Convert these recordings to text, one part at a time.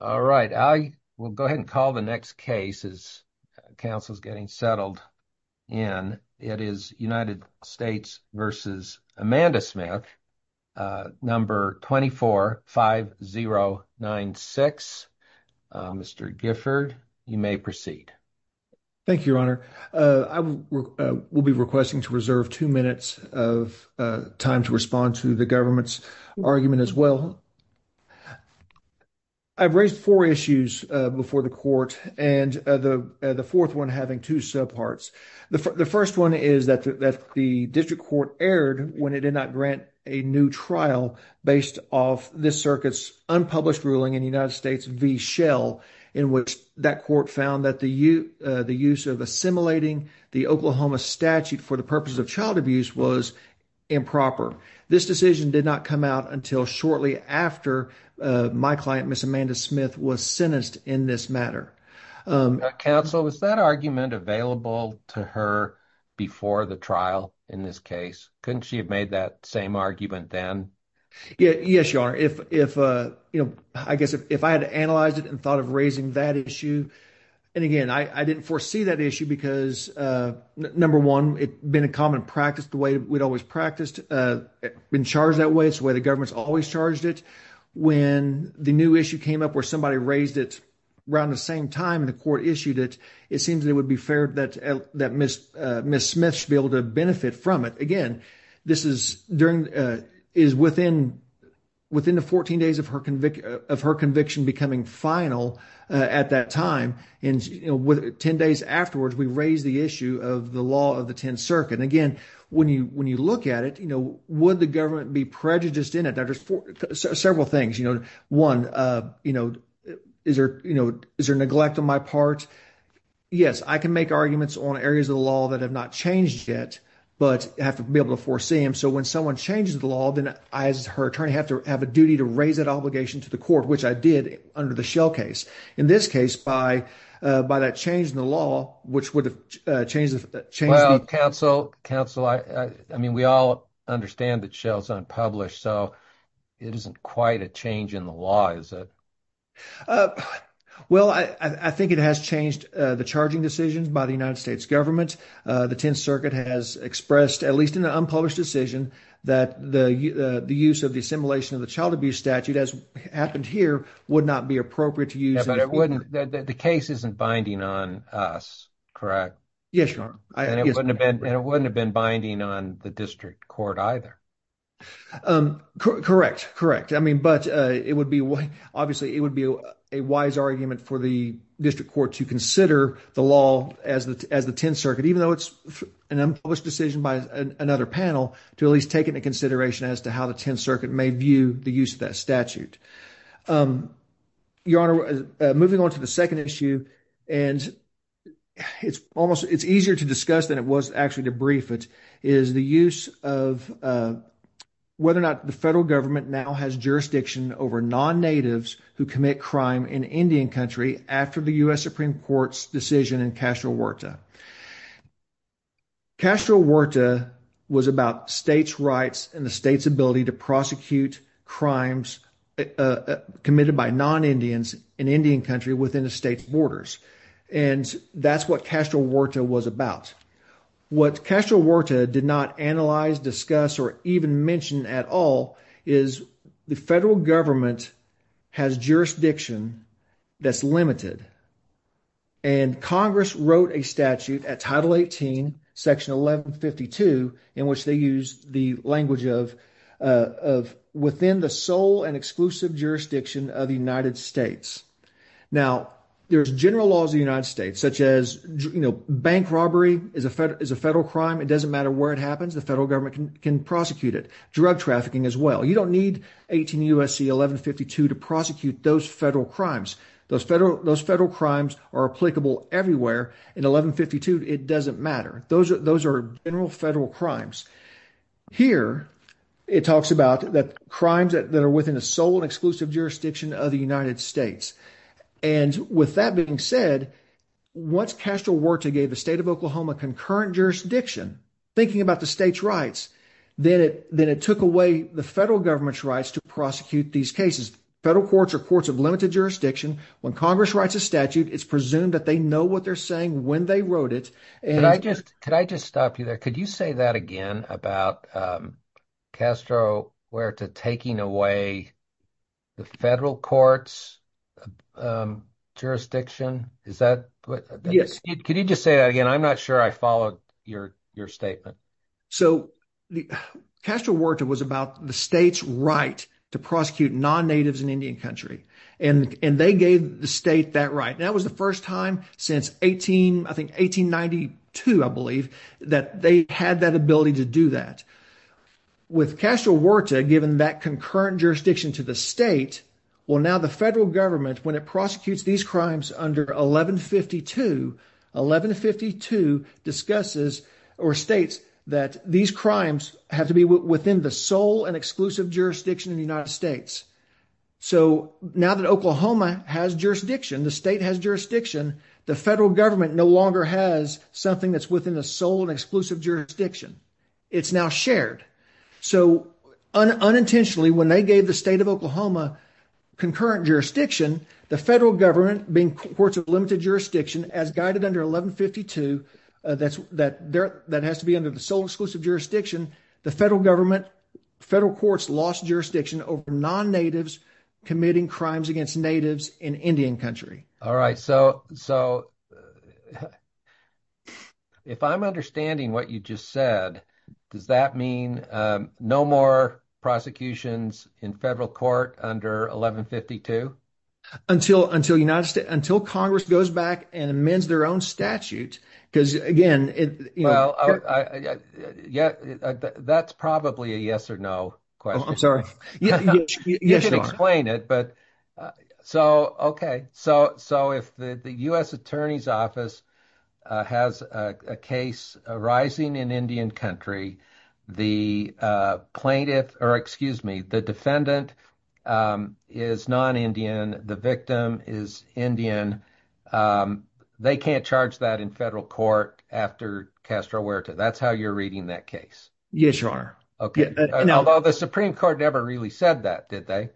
All right, I will go ahead and call the next case as Council is getting settled in. It is United States v. Amanda Smith, number 245096. Mr. Gifford, you may proceed. Thank you, Your Honor. I will be requesting to reserve two minutes of time to respond to the government's argument as well. I've raised four issues before the court, and the fourth one having two subparts. The first one is that the district court erred when it did not grant a new trial based off this circuit's unpublished ruling in United States v. Shell, in which that court found that the use of assimilating the Oklahoma statute for the purpose of child abuse was improper. This decision did not come out until shortly after my client, Ms. Amanda Smith, was sentenced in this matter. Counsel, was that argument available to her before the trial in this case? Couldn't she have made that same argument then? Yes, Your Honor. If, you know, I guess if I had analyzed it and thought of raising that issue, and again, I didn't foresee that issue because, number one, it had been a common practice the way we'd always practiced, been charged that way. It's the way the government's always charged it. When the new issue came up where somebody raised it around the same time the court issued it, it seems that it would be fair that Ms. Smith should be able to benefit from it. Again, this is within the 14 days of her conviction becoming final at that time, and 10 days afterwards, we raise the issue of the law of the 10th Circuit. And again, when you look at it, would the government be prejudiced in it? There's several things. One, is there neglect on my part? Yes, I can make arguments on areas of the law that have not changed yet, but I have to be able to foresee them. So when someone changes the law, then I, as her attorney, have to have a duty to raise that obligation to the court, which I did under the Shell case. In this case, by that change in the law, which would have changed the... Well, counsel, I mean, we all understand that Shell's unpublished, so it isn't quite a change in the law, is it? Well, I think it has changed the charging decisions by the United States government. The 10th Circuit has expressed, at least in the unpublished decision, that the use of the assimilation of the child abuse statute, as happened here, would not be appropriate to use... Yeah, but it wouldn't... the case isn't binding on us, correct? Yes, Your Honor. And it wouldn't have been binding on the district court either. Correct, correct. I mean, but it would be... obviously, it would be a wise argument for the district court to consider the law as the 10th Circuit, even though it's an unpublished decision by another panel, to at least take into consideration as to how the 10th Circuit may view the use of that statute. Your Honor, moving on to the second issue, and it's almost... it's easier to discuss than it was actually to brief it, is the use of whether or not the federal government now has jurisdiction over non-natives who commit crime in Indian country after the U.S. Supreme Court's decision in Castro Huerta. Castro Huerta was about states' rights and the state's ability to prosecute crimes committed by non-Indians in Indian country within the state's borders, and that's what Castro Huerta was about. What Castro Huerta did not analyze, discuss, or even mention at all is the federal government has jurisdiction that's limited, and Congress wrote a statute at Title 18, Section 1152, in which they use the language of within the sole and exclusive jurisdiction of the United States. Now, there's general laws of the United States, such as bank robbery is a federal crime. It doesn't matter where it happens. The federal government can prosecute it. Drug trafficking as well. You don't need 18 U.S.C. 1152 to prosecute those federal crimes. Those federal crimes are applicable everywhere. In 1152, it doesn't matter. Those are general federal crimes. Here, it talks about the crimes that are within the sole and exclusive jurisdiction of the United States. And with that being said, once Castro Huerta gave the state of Oklahoma concurrent jurisdiction, thinking about the state's rights, then it took away the federal government's rights to prosecute these cases. Federal courts are courts of limited jurisdiction. When Congress writes a statute, it's presumed that they know what they're saying when they wrote it. Could I just stop you there? Could you say that again about Castro Huerta taking away the federal courts' jurisdiction? Is that – Yes. Could you just say that again? I'm not sure I followed your statement. So Castro Huerta was about the state's right to prosecute non-natives in Indian country. And they gave the state that right. And that was the first time since 18 – I think 1892, I believe, that they had that ability to do that. With Castro Huerta giving that concurrent jurisdiction to the state, well, now the federal government, when it prosecutes these crimes under 1152, 1152 discusses or states that these crimes have to be within the sole and exclusive jurisdiction of the United States. So now that Oklahoma has jurisdiction, the state has jurisdiction, the federal government no longer has something that's within the sole and exclusive jurisdiction. It's now shared. So unintentionally, when they gave the state of Oklahoma concurrent jurisdiction, the federal government, being courts of limited jurisdiction, as guided under 1152, that has to be under the sole and exclusive jurisdiction, the federal government, federal courts lost jurisdiction over non-natives committing crimes against natives in Indian country. All right. So if I'm understanding what you just said, does that mean no more prosecutions in federal court under 1152? Until Congress goes back and amends their own statute because, again – Well, that's probably a yes or no question. I'm sorry. Yes, your honor. Okay. So if the U.S. Attorney's Office has a case arising in Indian country, the plaintiff – or excuse me, the defendant is non-Indian, the victim is Indian, they can't charge that in federal court after Castro Huerta. That's how you're reading that case? Yes, your honor. Okay. Although the Supreme Court never really said that, did they?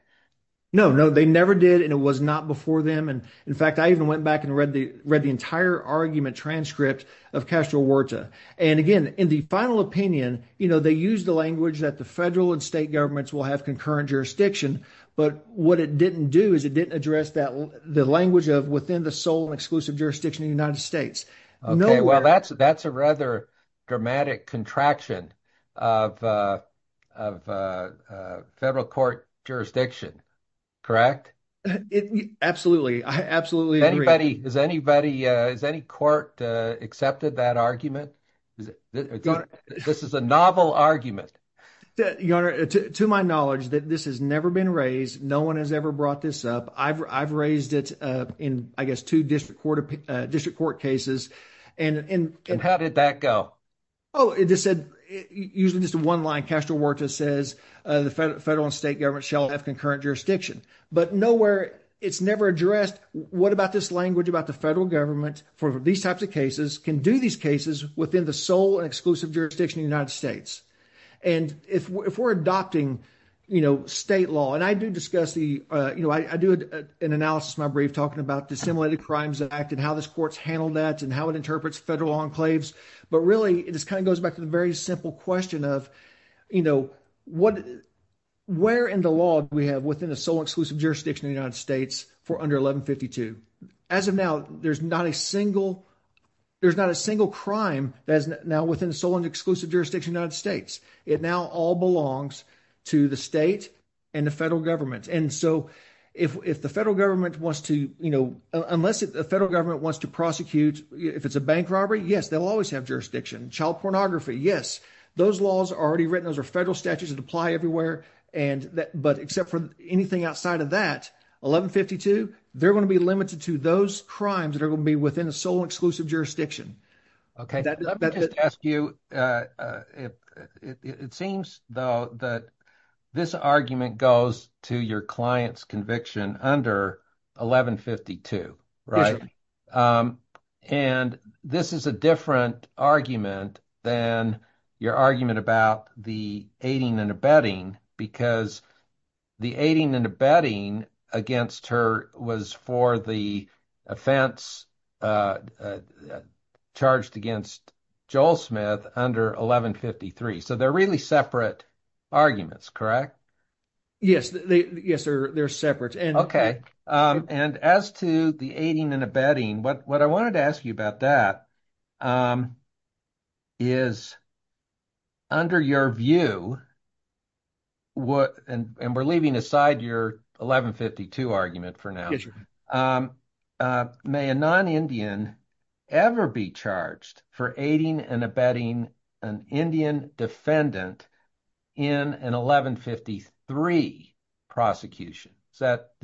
No, no, they never did, and it was not before them. In fact, I even went back and read the entire argument transcript of Castro Huerta. And again, in the final opinion, they used the language that the federal and state governments will have concurrent jurisdiction, but what it didn't do is it didn't address the language of within the sole and exclusive jurisdiction of the United States. Okay. Well, that's a rather dramatic contraction of federal court jurisdiction, correct? Absolutely. I absolutely agree. Has any court accepted that argument? This is a novel argument. Your honor, to my knowledge, this has never been raised. No one has ever brought this up. I've raised it in, I guess, two district court cases. And how did that go? Oh, it just said, usually just one line, Castro Huerta says the federal and state government shall have concurrent jurisdiction. But nowhere, it's never addressed what about this language about the federal government for these types of cases can do these cases within the sole and exclusive jurisdiction of the United States. And if we're adopting, you know, state law, and I do discuss the, you know, I do an analysis in my brief talking about dissimilated crimes that act and how this court's handled that and how it interprets federal enclaves. But really, it just kind of goes back to the very simple question of, you know, what, where in the law do we have within the sole and exclusive jurisdiction of the United States for under 1152? As of now, there's not a single, there's not a single crime that is now within the sole and exclusive jurisdiction of the United States. It now all belongs to the state and the federal government. And so, if the federal government wants to, you know, unless the federal government wants to prosecute, if it's a bank robbery, yes, they'll always have jurisdiction. Child pornography, yes. Those laws are already written. Those are federal statutes that apply everywhere. And that, but except for anything outside of that, 1152, they're going to be limited to those crimes that are going to be within the sole and exclusive jurisdiction. Okay. Let me just ask you, it seems, though, that this argument goes to your client's conviction under 1152, right? Right. And this is a different argument than your argument about the aiding and abetting, because the aiding and abetting against her was for the offense charged against Joel Smith under 1153. So they're really separate arguments, correct? Yes. Yes, they're separate. Okay. And as to the aiding and abetting, what I wanted to ask you about that is, under your view, and we're leaving aside your 1152 argument for now, may a non-Indian ever be charged for aiding and abetting an Indian defendant in an 1153 prosecution? Is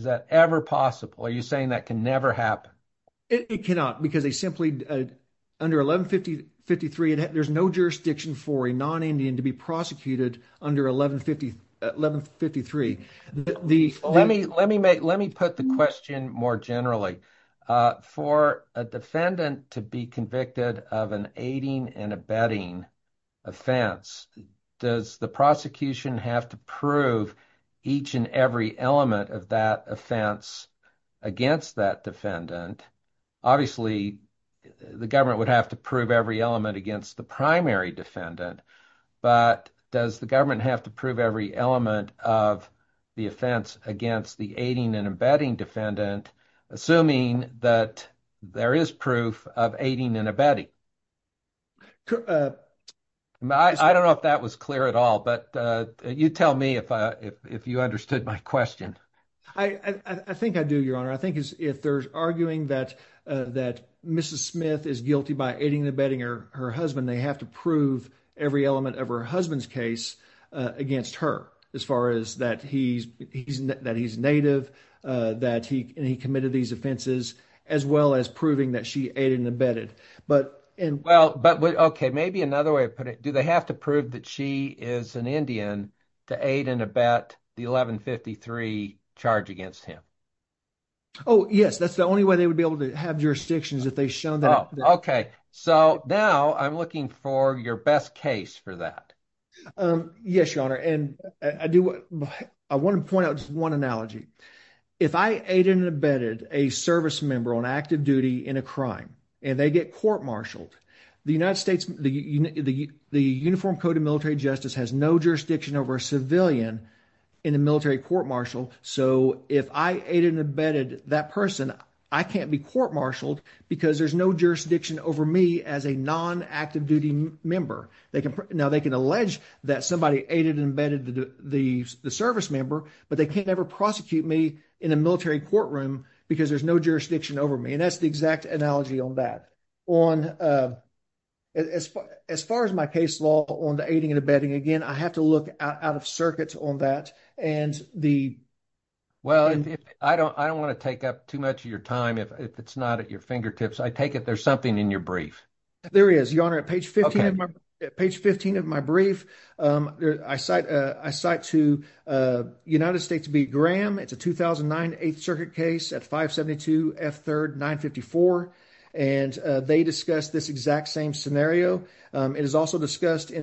that ever possible? Are you saying that can never happen? It cannot, because they simply, under 1153, there's no jurisdiction for a non-Indian to be prosecuted under 1153. Let me put the question more generally. For a defendant to be convicted of an aiding and abetting offense, does the prosecution have to prove each and every element of that offense against that defendant? Obviously, the government would have to prove every element against the primary defendant, but does the government have to prove every element of the offense against the aiding and abetting defendant, assuming that there is proof of aiding and abetting? I don't know if that was clear at all, but you tell me if you understood my question. I think I do, Your Honor. I think if they're arguing that Mrs. Smith is guilty by aiding and abetting her husband, they have to prove every element of her husband's case against her, as far as that he's Native, that he committed these offenses, as well as proving that she aided and abetted. Okay, maybe another way of putting it, do they have to prove that she is an Indian to aid and abet the 1153 charge against him? Oh, yes. That's the only way they would be able to have jurisdictions if they've shown that. Okay, so now I'm looking for your best case for that. Yes, Your Honor, and I want to point out just one analogy. If I aided and abetted a service member on active duty in a crime, and they get court-martialed, the Uniform Code of Military Justice has no jurisdiction over a civilian in a military court-martial, so if I aided and abetted that person, I can't be court-martialed because there's no jurisdiction over me as a non-active duty member. Now, they can allege that somebody aided and abetted the service member, but they can't ever prosecute me in a military courtroom because there's no jurisdiction over me, and that's the exact analogy on that. As far as my case law on the aiding and abetting, again, I have to look out of circuit on that. Well, I don't want to take up too much of your time if it's not at your fingertips. I take it there's something in your brief. There is, Your Honor. At page 15 of my brief, I cite to United States v. Graham. It's a 2009 8th Circuit case at 572 F. 3rd 954, and they discussed this exact same scenario. It is also discussed in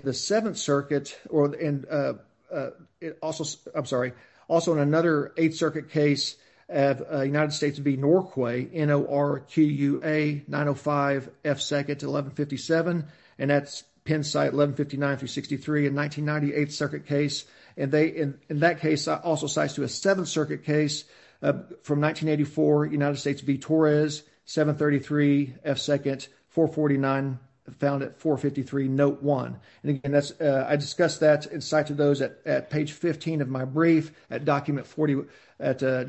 another 8th Circuit case of United States v. Norquay, N-O-R-Q-U-A 905 F. 2nd 1157, and that's Penn site 1159-363, a 1998 circuit case. In that case, I also cite to a 7th Circuit case from 1984, United States v. Torres, 733 F. 2nd 449 found at 453 Note 1. I discuss that and cite to those at page 15 of my brief at document 41. Can I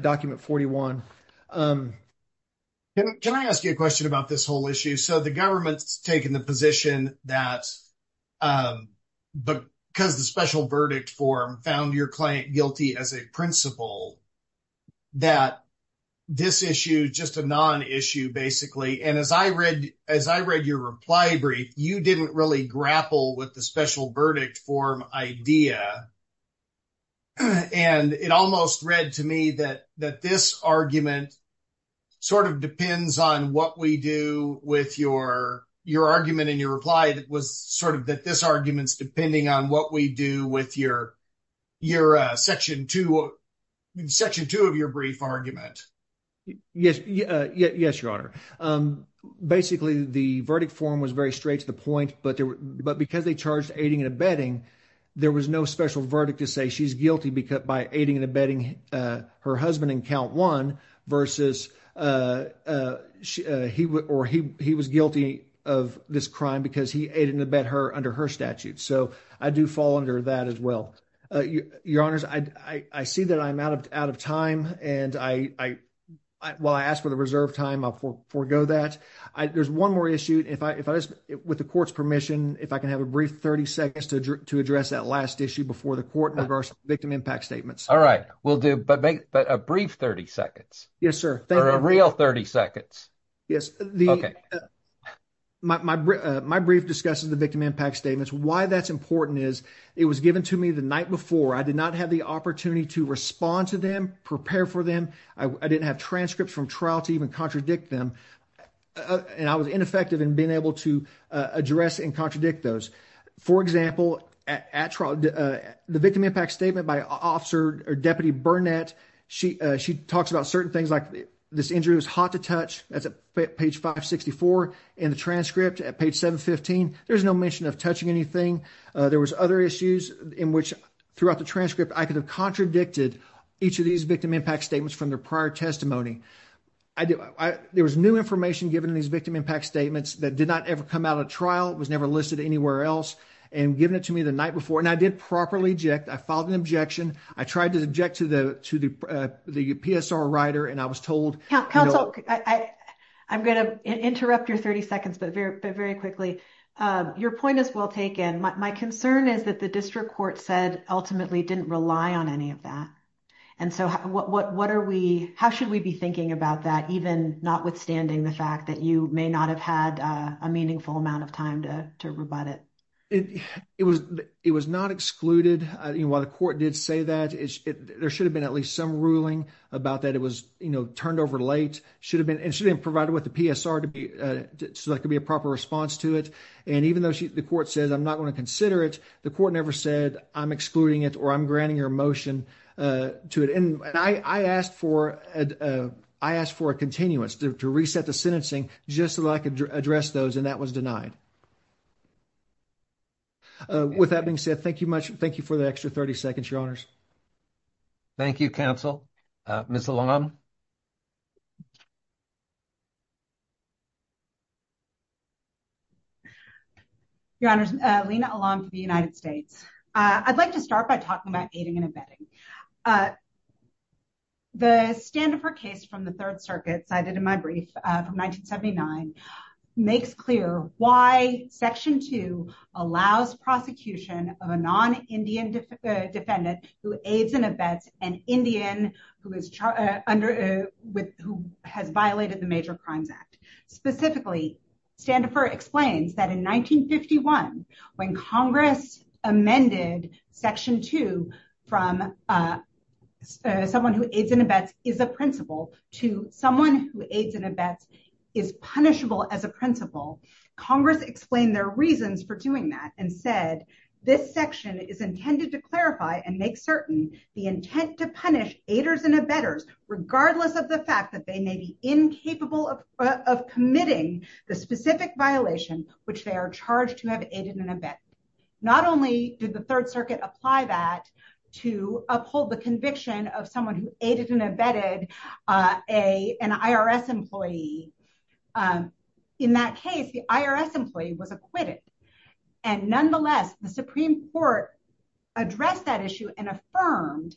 ask you a question about this whole issue? So the government's taking the position that because the special verdict form found your client guilty as a principal, that this issue is just a non-issue, basically. And as I read your reply brief, you didn't really grapple with the special verdict form idea, and it almost read to me that this argument sort of depends on what we do with your argument in your reply that was sort of that this argument's depending on what we do with your section 2 of your brief argument. Yes, yes, your Honor. Basically, the verdict form was very straight to the point, but because they charged aiding and abetting, there was no special verdict to say she's guilty because by aiding and abetting her husband in count one versus he was guilty of this crime because he aided and abet her under her statute. So I do fall under that as well. Your Honor, I see that I'm out of time, and while I ask for the reserve time, I'll forego that. There's one more issue. With the court's permission, if I can have a brief 30 seconds to address that last issue before the court in regards to the victim impact statements. All right, we'll do, but a brief 30 seconds. Yes, sir. Or a real 30 seconds. Okay. My brief discusses the victim impact statements. Why that's important is it was given to me the night before. I did not have the opportunity to respond to them, prepare for them. I didn't have transcripts from trial to even contradict them, and I was ineffective in being able to address and contradict those. For example, the victim impact statement by Deputy Burnett, she talks about certain things like this injury was hot to touch. That's at page 564 in the transcript at page 715. There's no mention of touching anything. There was other issues in which throughout the transcript I could have contradicted each of these victim impact statements from their prior testimony. There was new information given in these victim impact statements that did not ever come out of trial. It was never listed anywhere else and given it to me the night before, and I did properly object. I filed an objection. I tried to object to the PSR writer, and I was told— Counsel, I'm going to interrupt your 30 seconds, but very quickly. Your point is well taken. My concern is that the district court said ultimately didn't rely on any of that. And so what are we—how should we be thinking about that, even notwithstanding the fact that you may not have had a meaningful amount of time to rebut it? It was not excluded. While the court did say that, there should have been at least some ruling about that. It was turned over late. It should have been provided with the PSR so there could be a proper response to it. And even though the court says I'm not going to consider it, the court never said I'm excluding it or I'm granting your motion to it. And I asked for a continuance, to reset the sentencing just so that I could address those, and that was denied. With that being said, thank you much. Thank you for the extra 30 seconds, Your Honors. Thank you, Counsel. Ms. Alam? Your Honors, Lina Alam for the United States. I'd like to start by talking about aiding and abetting. The Standifer case from the Third Circuit, cited in my brief from 1979, makes clear why Section 2 allows prosecution of a non-Indian defendant who aids and abets an Indian who has violated the Major Crimes Act. Specifically, Standifer explains that in 1951, when Congress amended Section 2 from someone who aids and abets is a principle to someone who aids and abets is punishable as a principle, Congress explained their reasons for doing that and said, this section is intended to clarify and make certain the intent to punish aiders and abettors, regardless of the fact that they may be incapable of committing the specific violation which they are charged to have aided and abetted. Not only did the Third Circuit apply that to uphold the conviction of someone who aided and abetted an IRS employee, in that case, the IRS employee was acquitted. And nonetheless, the Supreme Court addressed that issue and affirmed,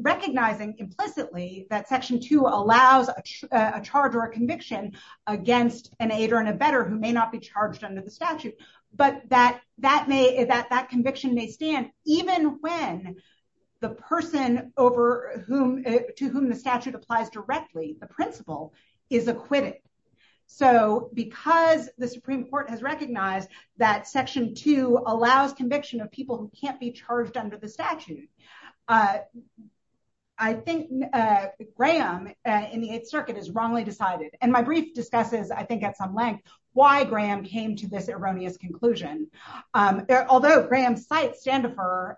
recognizing implicitly that Section 2 allows a charge or a conviction against an aider and abetter who may not be charged under the statute, but that conviction may stand even when the person to whom the statute applies directly, the principal, is acquitted. So, because the Supreme Court has recognized that Section 2 allows conviction of people who can't be charged under the statute, I think Graham in the Eighth Circuit has wrongly decided, and my brief discusses, I think at some length, why Graham came to this erroneous conclusion. Although Graham cites Standefer,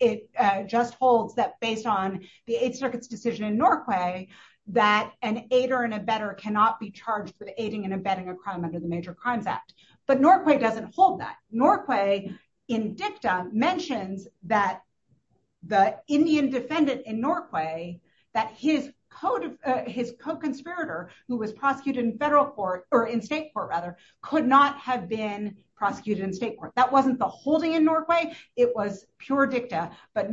it just holds that based on the Eighth Circuit's decision in Norquay, that an aider and abetter cannot be charged with aiding and abetting a crime under the Major Crimes Act. But Norquay doesn't hold that. Norquay, in dicta, mentions that the Indian defendant in Norquay, that his co-conspirator, who was prosecuted in federal court, or in state court rather, could not have been prosecuted in state court. That wasn't the holding in Norquay. It was pure dicta. But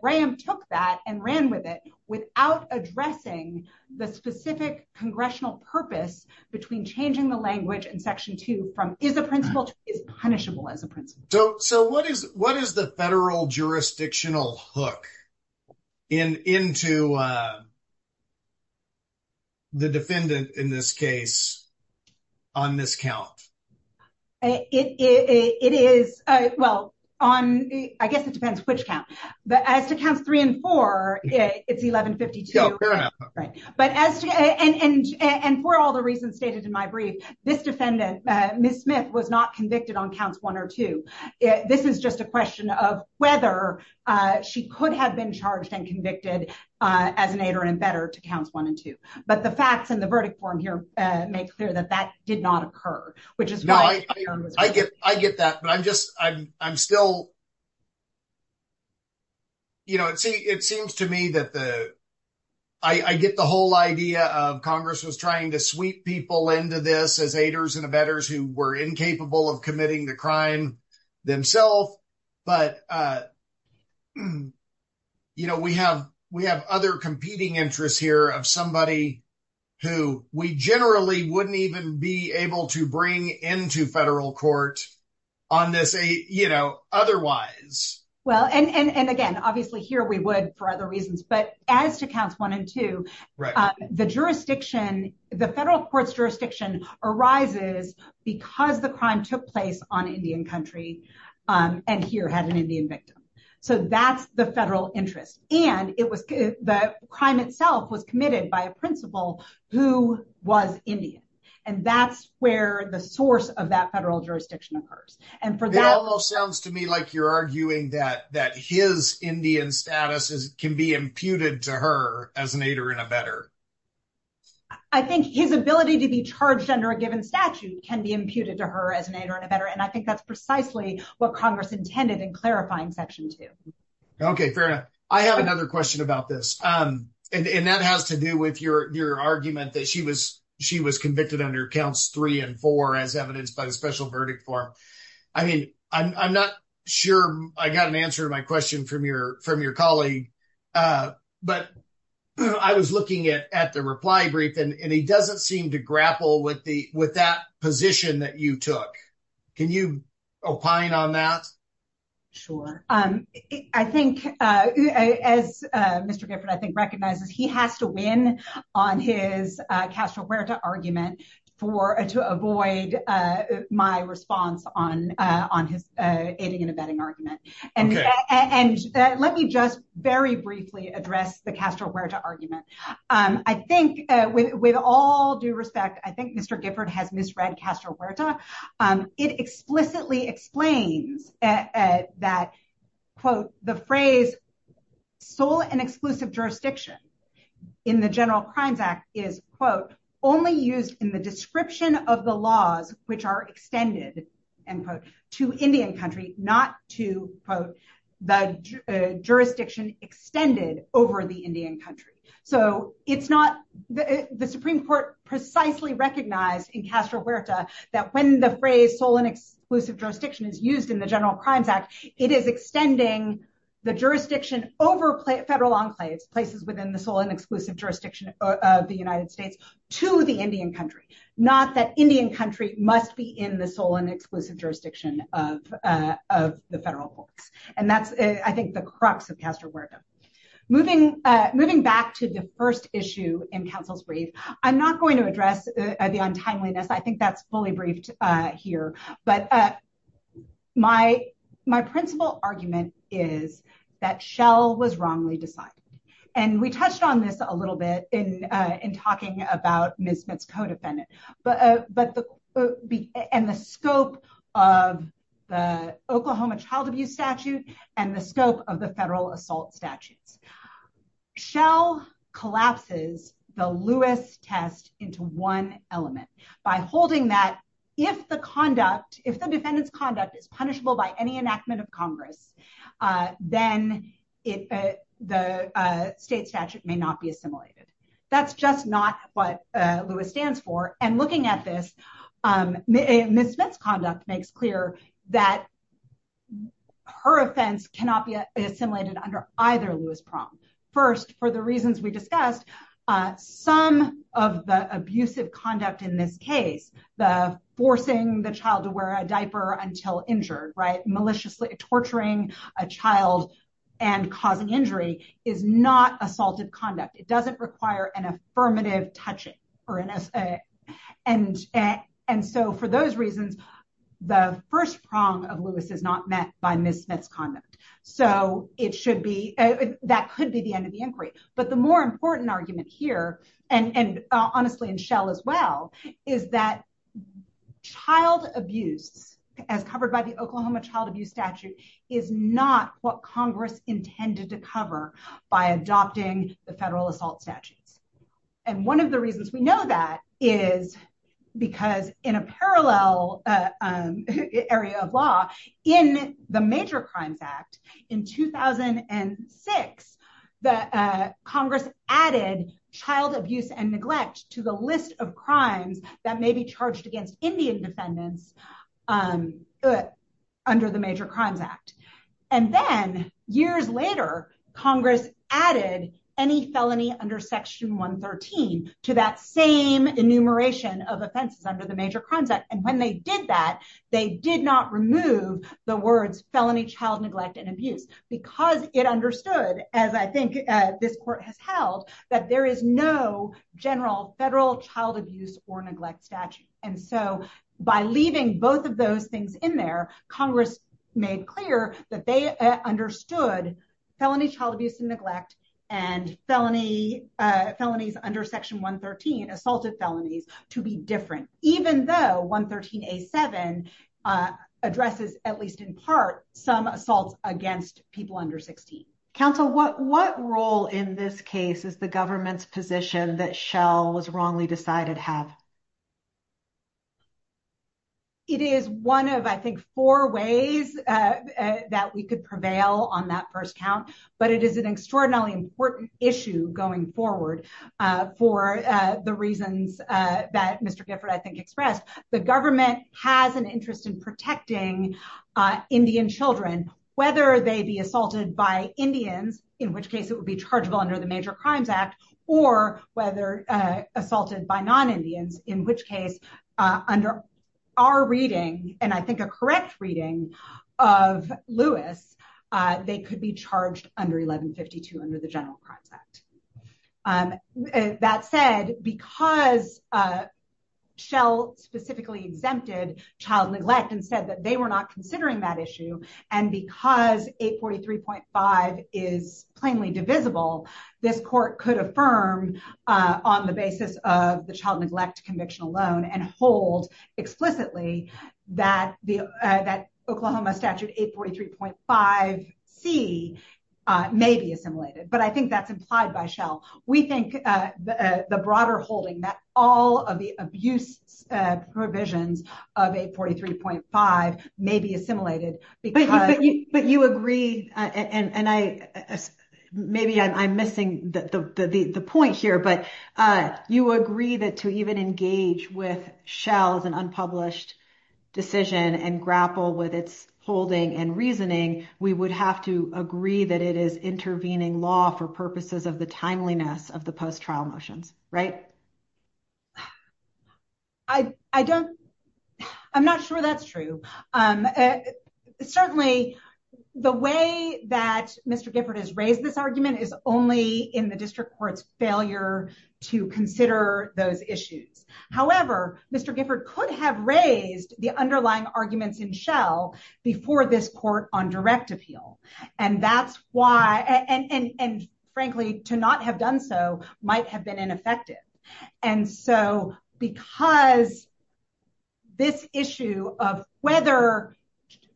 Graham took that and ran with it without addressing the specific congressional purpose between changing the language in Section 2 from is a principal to is punishable as a principal. So, what is the federal jurisdictional hook into the defendant in this case on this count? It is, well, on, I guess it depends which count, but as to counts three and four, it's 1152. Fair enough. And for all the reasons stated in my brief, this defendant, Ms. Smith, was not convicted on counts one or two. This is just a question of whether she could have been charged and convicted as an aider and abetter to counts one and two. But the facts in the verdict form here make clear that that did not occur. No, I get that. But I'm just, I'm still, you know, it seems to me that the, I get the whole idea of Congress was trying to sweep people into this as aiders and abetters who were incapable of committing the crime themselves. But, you know, we have other competing interests here of somebody who we generally wouldn't even be able to bring into federal court on this aid, you know, otherwise. Well, and again, obviously here we would for other reasons, but as to counts one and two, the jurisdiction, the federal court's jurisdiction arises because the crime took place on Indian country and here had an Indian victim. So that's the federal interest. And it was the crime itself was committed by a principal who was Indian. And that's where the source of that federal jurisdiction occurs. It almost sounds to me like you're arguing that his Indian status can be imputed to her as an aider and abetter. I think his ability to be charged under a given statute can be imputed to her as an aider and abetter. And I think that's precisely what Congress intended in clarifying section two. Okay, fair enough. I have another question about this. And that has to do with your argument that she was convicted under counts three and four as evidenced by the special verdict form. I mean, I'm not sure I got an answer to my question from your colleague, but I was looking at the reply brief and he doesn't seem to grapple with that position that you took. Can you opine on that? Sure. I think as Mr. Gifford I think recognizes he has to win on his Castro Huerta argument to avoid my response on his aiding and abetting argument. And let me just very briefly address the Castro Huerta argument. I think with all due respect, I think Mr. Gifford has misread Castro Huerta. It explicitly explains that, quote, the phrase sole and exclusive jurisdiction in the General Crimes Act is, quote, only used in the description of the laws which are extended, end quote, to Indian country, not to, quote, the jurisdiction extended over the Indian country. So it's not the Supreme Court precisely recognized in Castro Huerta that when the phrase sole and exclusive jurisdiction is used in the General Crimes Act, it is extending the jurisdiction over federal enclaves, places within the sole and exclusive jurisdiction of the United States, to the Indian country. Not that Indian country must be in the sole and exclusive jurisdiction of the federal courts. And that's, I think, the crux of Castro Huerta. Moving back to the first issue in counsel's brief, I'm not going to address the untimeliness. I think that's fully briefed here. But my principal argument is that Shell was wrongly decided. And we touched on this a little bit in talking about Ms. Smith's co-defendant, and the scope of the Oklahoma child abuse statute and the scope of the federal assault statutes. Shell collapses the Lewis test into one element by holding that if the defendant's conduct is punishable by any enactment of Congress, then the state statute may not be assimilated. That's just not what Lewis stands for. And looking at this, Ms. Smith's conduct makes clear that her offense cannot be assimilated under either Lewis prong. First, for the reasons we discussed, some of the abusive conduct in this case, the forcing the child to wear a diaper until injured, maliciously torturing a child and causing injury, is not assaultive conduct. It doesn't require an affirmative touching. And so for those reasons, the first prong of Lewis is not met by Ms. Smith's conduct. So it should be, that could be the end of the inquiry. But the more important argument here, and honestly in Shell as well, is that child abuse, as covered by the Oklahoma child abuse statute, is not what Congress intended to cover by adopting the federal assault statutes. And one of the reasons we know that is because in a parallel area of law, in the Major Crimes Act in 2006, Congress added child abuse and neglect to the list of crimes that may be charged against Indian defendants under the Major Crimes Act. And then, years later, Congress added any felony under Section 113 to that same enumeration of offenses under the Major Crimes Act. And when they did that, they did not remove the words felony child neglect and abuse, because it understood, as I think this court has held, that there is no general federal child abuse or neglect statute. And so by leaving both of those things in there, Congress made clear that they understood felony child abuse and neglect and felonies under Section 113, assaulted felonies, to be different. Even though 113A7 addresses, at least in part, some assaults against people under 16. Counsel, what role in this case is the government's position that Shell was wrongly decided to have? It is one of, I think, four ways that we could prevail on that first count. But it is an extraordinarily important issue going forward for the reasons that Mr. Gifford, I think, expressed. The government has an interest in protecting Indian children, whether they be assaulted by Indians, in which case it would be chargeable under the Major Crimes Act, or whether assaulted by non-Indians, in which case, under our reading, and I think a correct reading of Lewis, they could be charged under 1152 under the General Crimes Act. That said, because Shell specifically exempted child neglect and said that they were not considering that issue, and because 843.5 is plainly divisible, this court could affirm on the basis of the child neglect conviction alone and hold explicitly that the Oklahoma Statute 843.5C may be assimilated. But I think that's implied by Shell. We think the broader holding that all of the abuse provisions of 843.5 may be assimilated. But you agree, and maybe I'm missing the point here, but you agree that to even engage with Shell's unpublished decision and grapple with its holding and reasoning, we would have to agree that it is intervening law for purposes of the timeliness of the post-trial motions, right? I don't, I'm not sure that's true. Certainly, the way that Mr. Gifford has raised this argument is only in the district court's failure to consider those issues. However, Mr. Gifford could have raised the underlying arguments in Shell before this court on direct appeal. And that's why, and frankly, to not have done so might have been ineffective. And so, because this issue of whether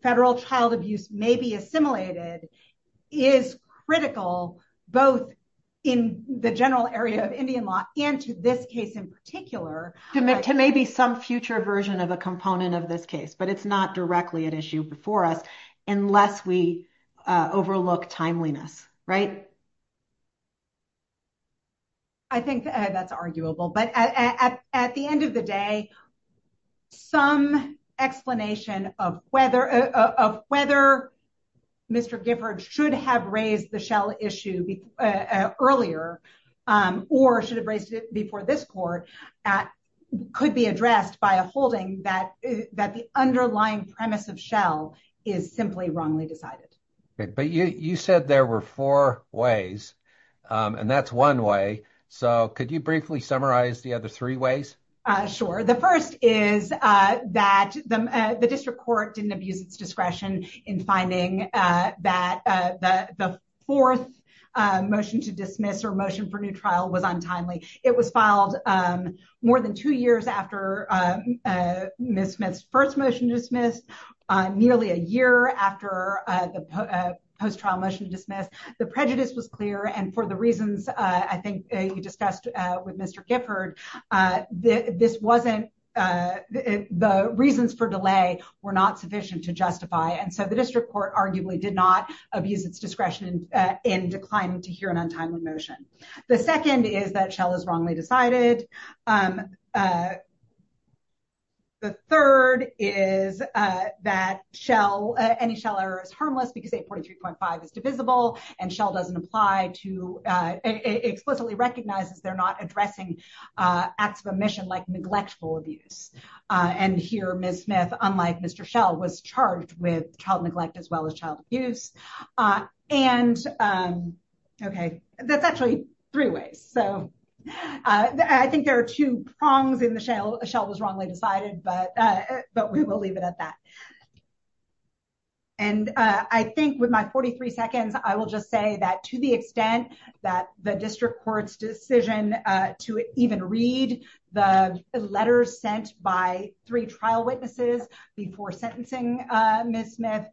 federal child abuse may be assimilated is critical, both in the general area of Indian law and to this case in particular. To maybe some future version of a component of this case, but it's not directly at issue before us unless we overlook timeliness, right? I think that's arguable, but at the end of the day, some explanation of whether Mr. Gifford should have raised the Shell issue earlier or should have raised it before this court could be addressed by a holding that the underlying premise of Shell is simply wrongly decided. But you said there were four ways, and that's one way. So, could you briefly summarize the other three ways? Sure. The first is that the district court didn't abuse its discretion in finding that the fourth motion to dismiss or motion for new trial was untimely. It was filed more than two years after Ms. Smith's first motion to dismiss, nearly a year after the post trial motion to dismiss. The prejudice was clear. And for the reasons I think you discussed with Mr. Gifford, the reasons for delay were not sufficient to justify. And so the district court arguably did not abuse its discretion in declining to hear an untimely motion. The second is that Shell is wrongly decided. The third is that Shell, any Shell error is harmless because 843.5 is divisible and Shell doesn't apply to, explicitly recognizes they're not addressing acts of omission like neglectful abuse. And here, Ms. Smith, unlike Mr. Shell, was charged with child neglect as well as child abuse. And, okay, that's actually three ways. So, I think there are two prongs in the Shell. Shell was wrongly decided, but we will leave it at that. And I think with my 43 seconds, I will just say that to the extent that the district court's decision to even read the letters sent by three trial witnesses before sentencing Ms. Smith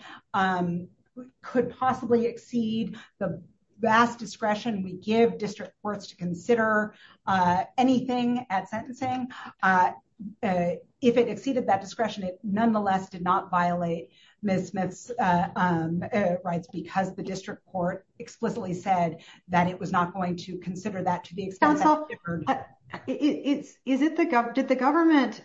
could possibly exceed the vast discretion we give district courts to consider anything at sentencing. If it exceeded that discretion, it nonetheless did not violate Ms. Smith's rights because the district court explicitly said that it was not going to consider that to the extent that... Did the government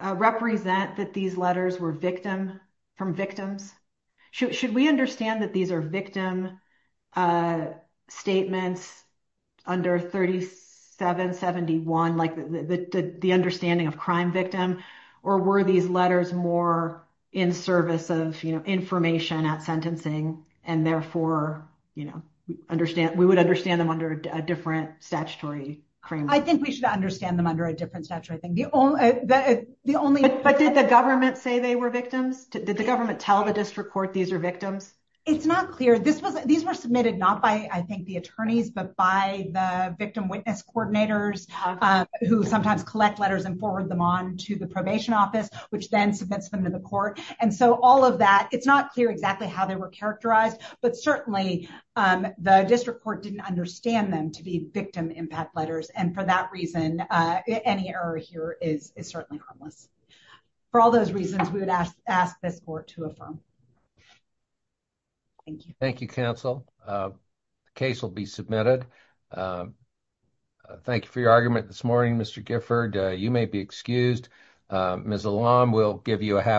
represent that these letters were from victims? Should we understand that these are victim statements under 3771, like the understanding of crime victim? Or were these letters more in service of information at sentencing and therefore we would understand them under a different statutory framework? I think we should understand them under a different statutory thing. The only... But did the government say they were victims? Did the government tell the district court these are victims? It's not clear. These were submitted not by, I think, the attorneys, but by the victim witness coordinators who sometimes collect letters and forward them on to the probation office, which then submits them to the court. And so all of that, it's not clear exactly how they were characterized, but certainly the district court didn't understand them to be victim impact letters. And for that reason, any error here is certainly harmless. For all those reasons, we would ask this court to affirm. Thank you. Thank you, counsel. The case will be submitted. Thank you for your argument this morning, Mr. Gifford. You may be excused. Ms. Elam, we'll give you a half hour.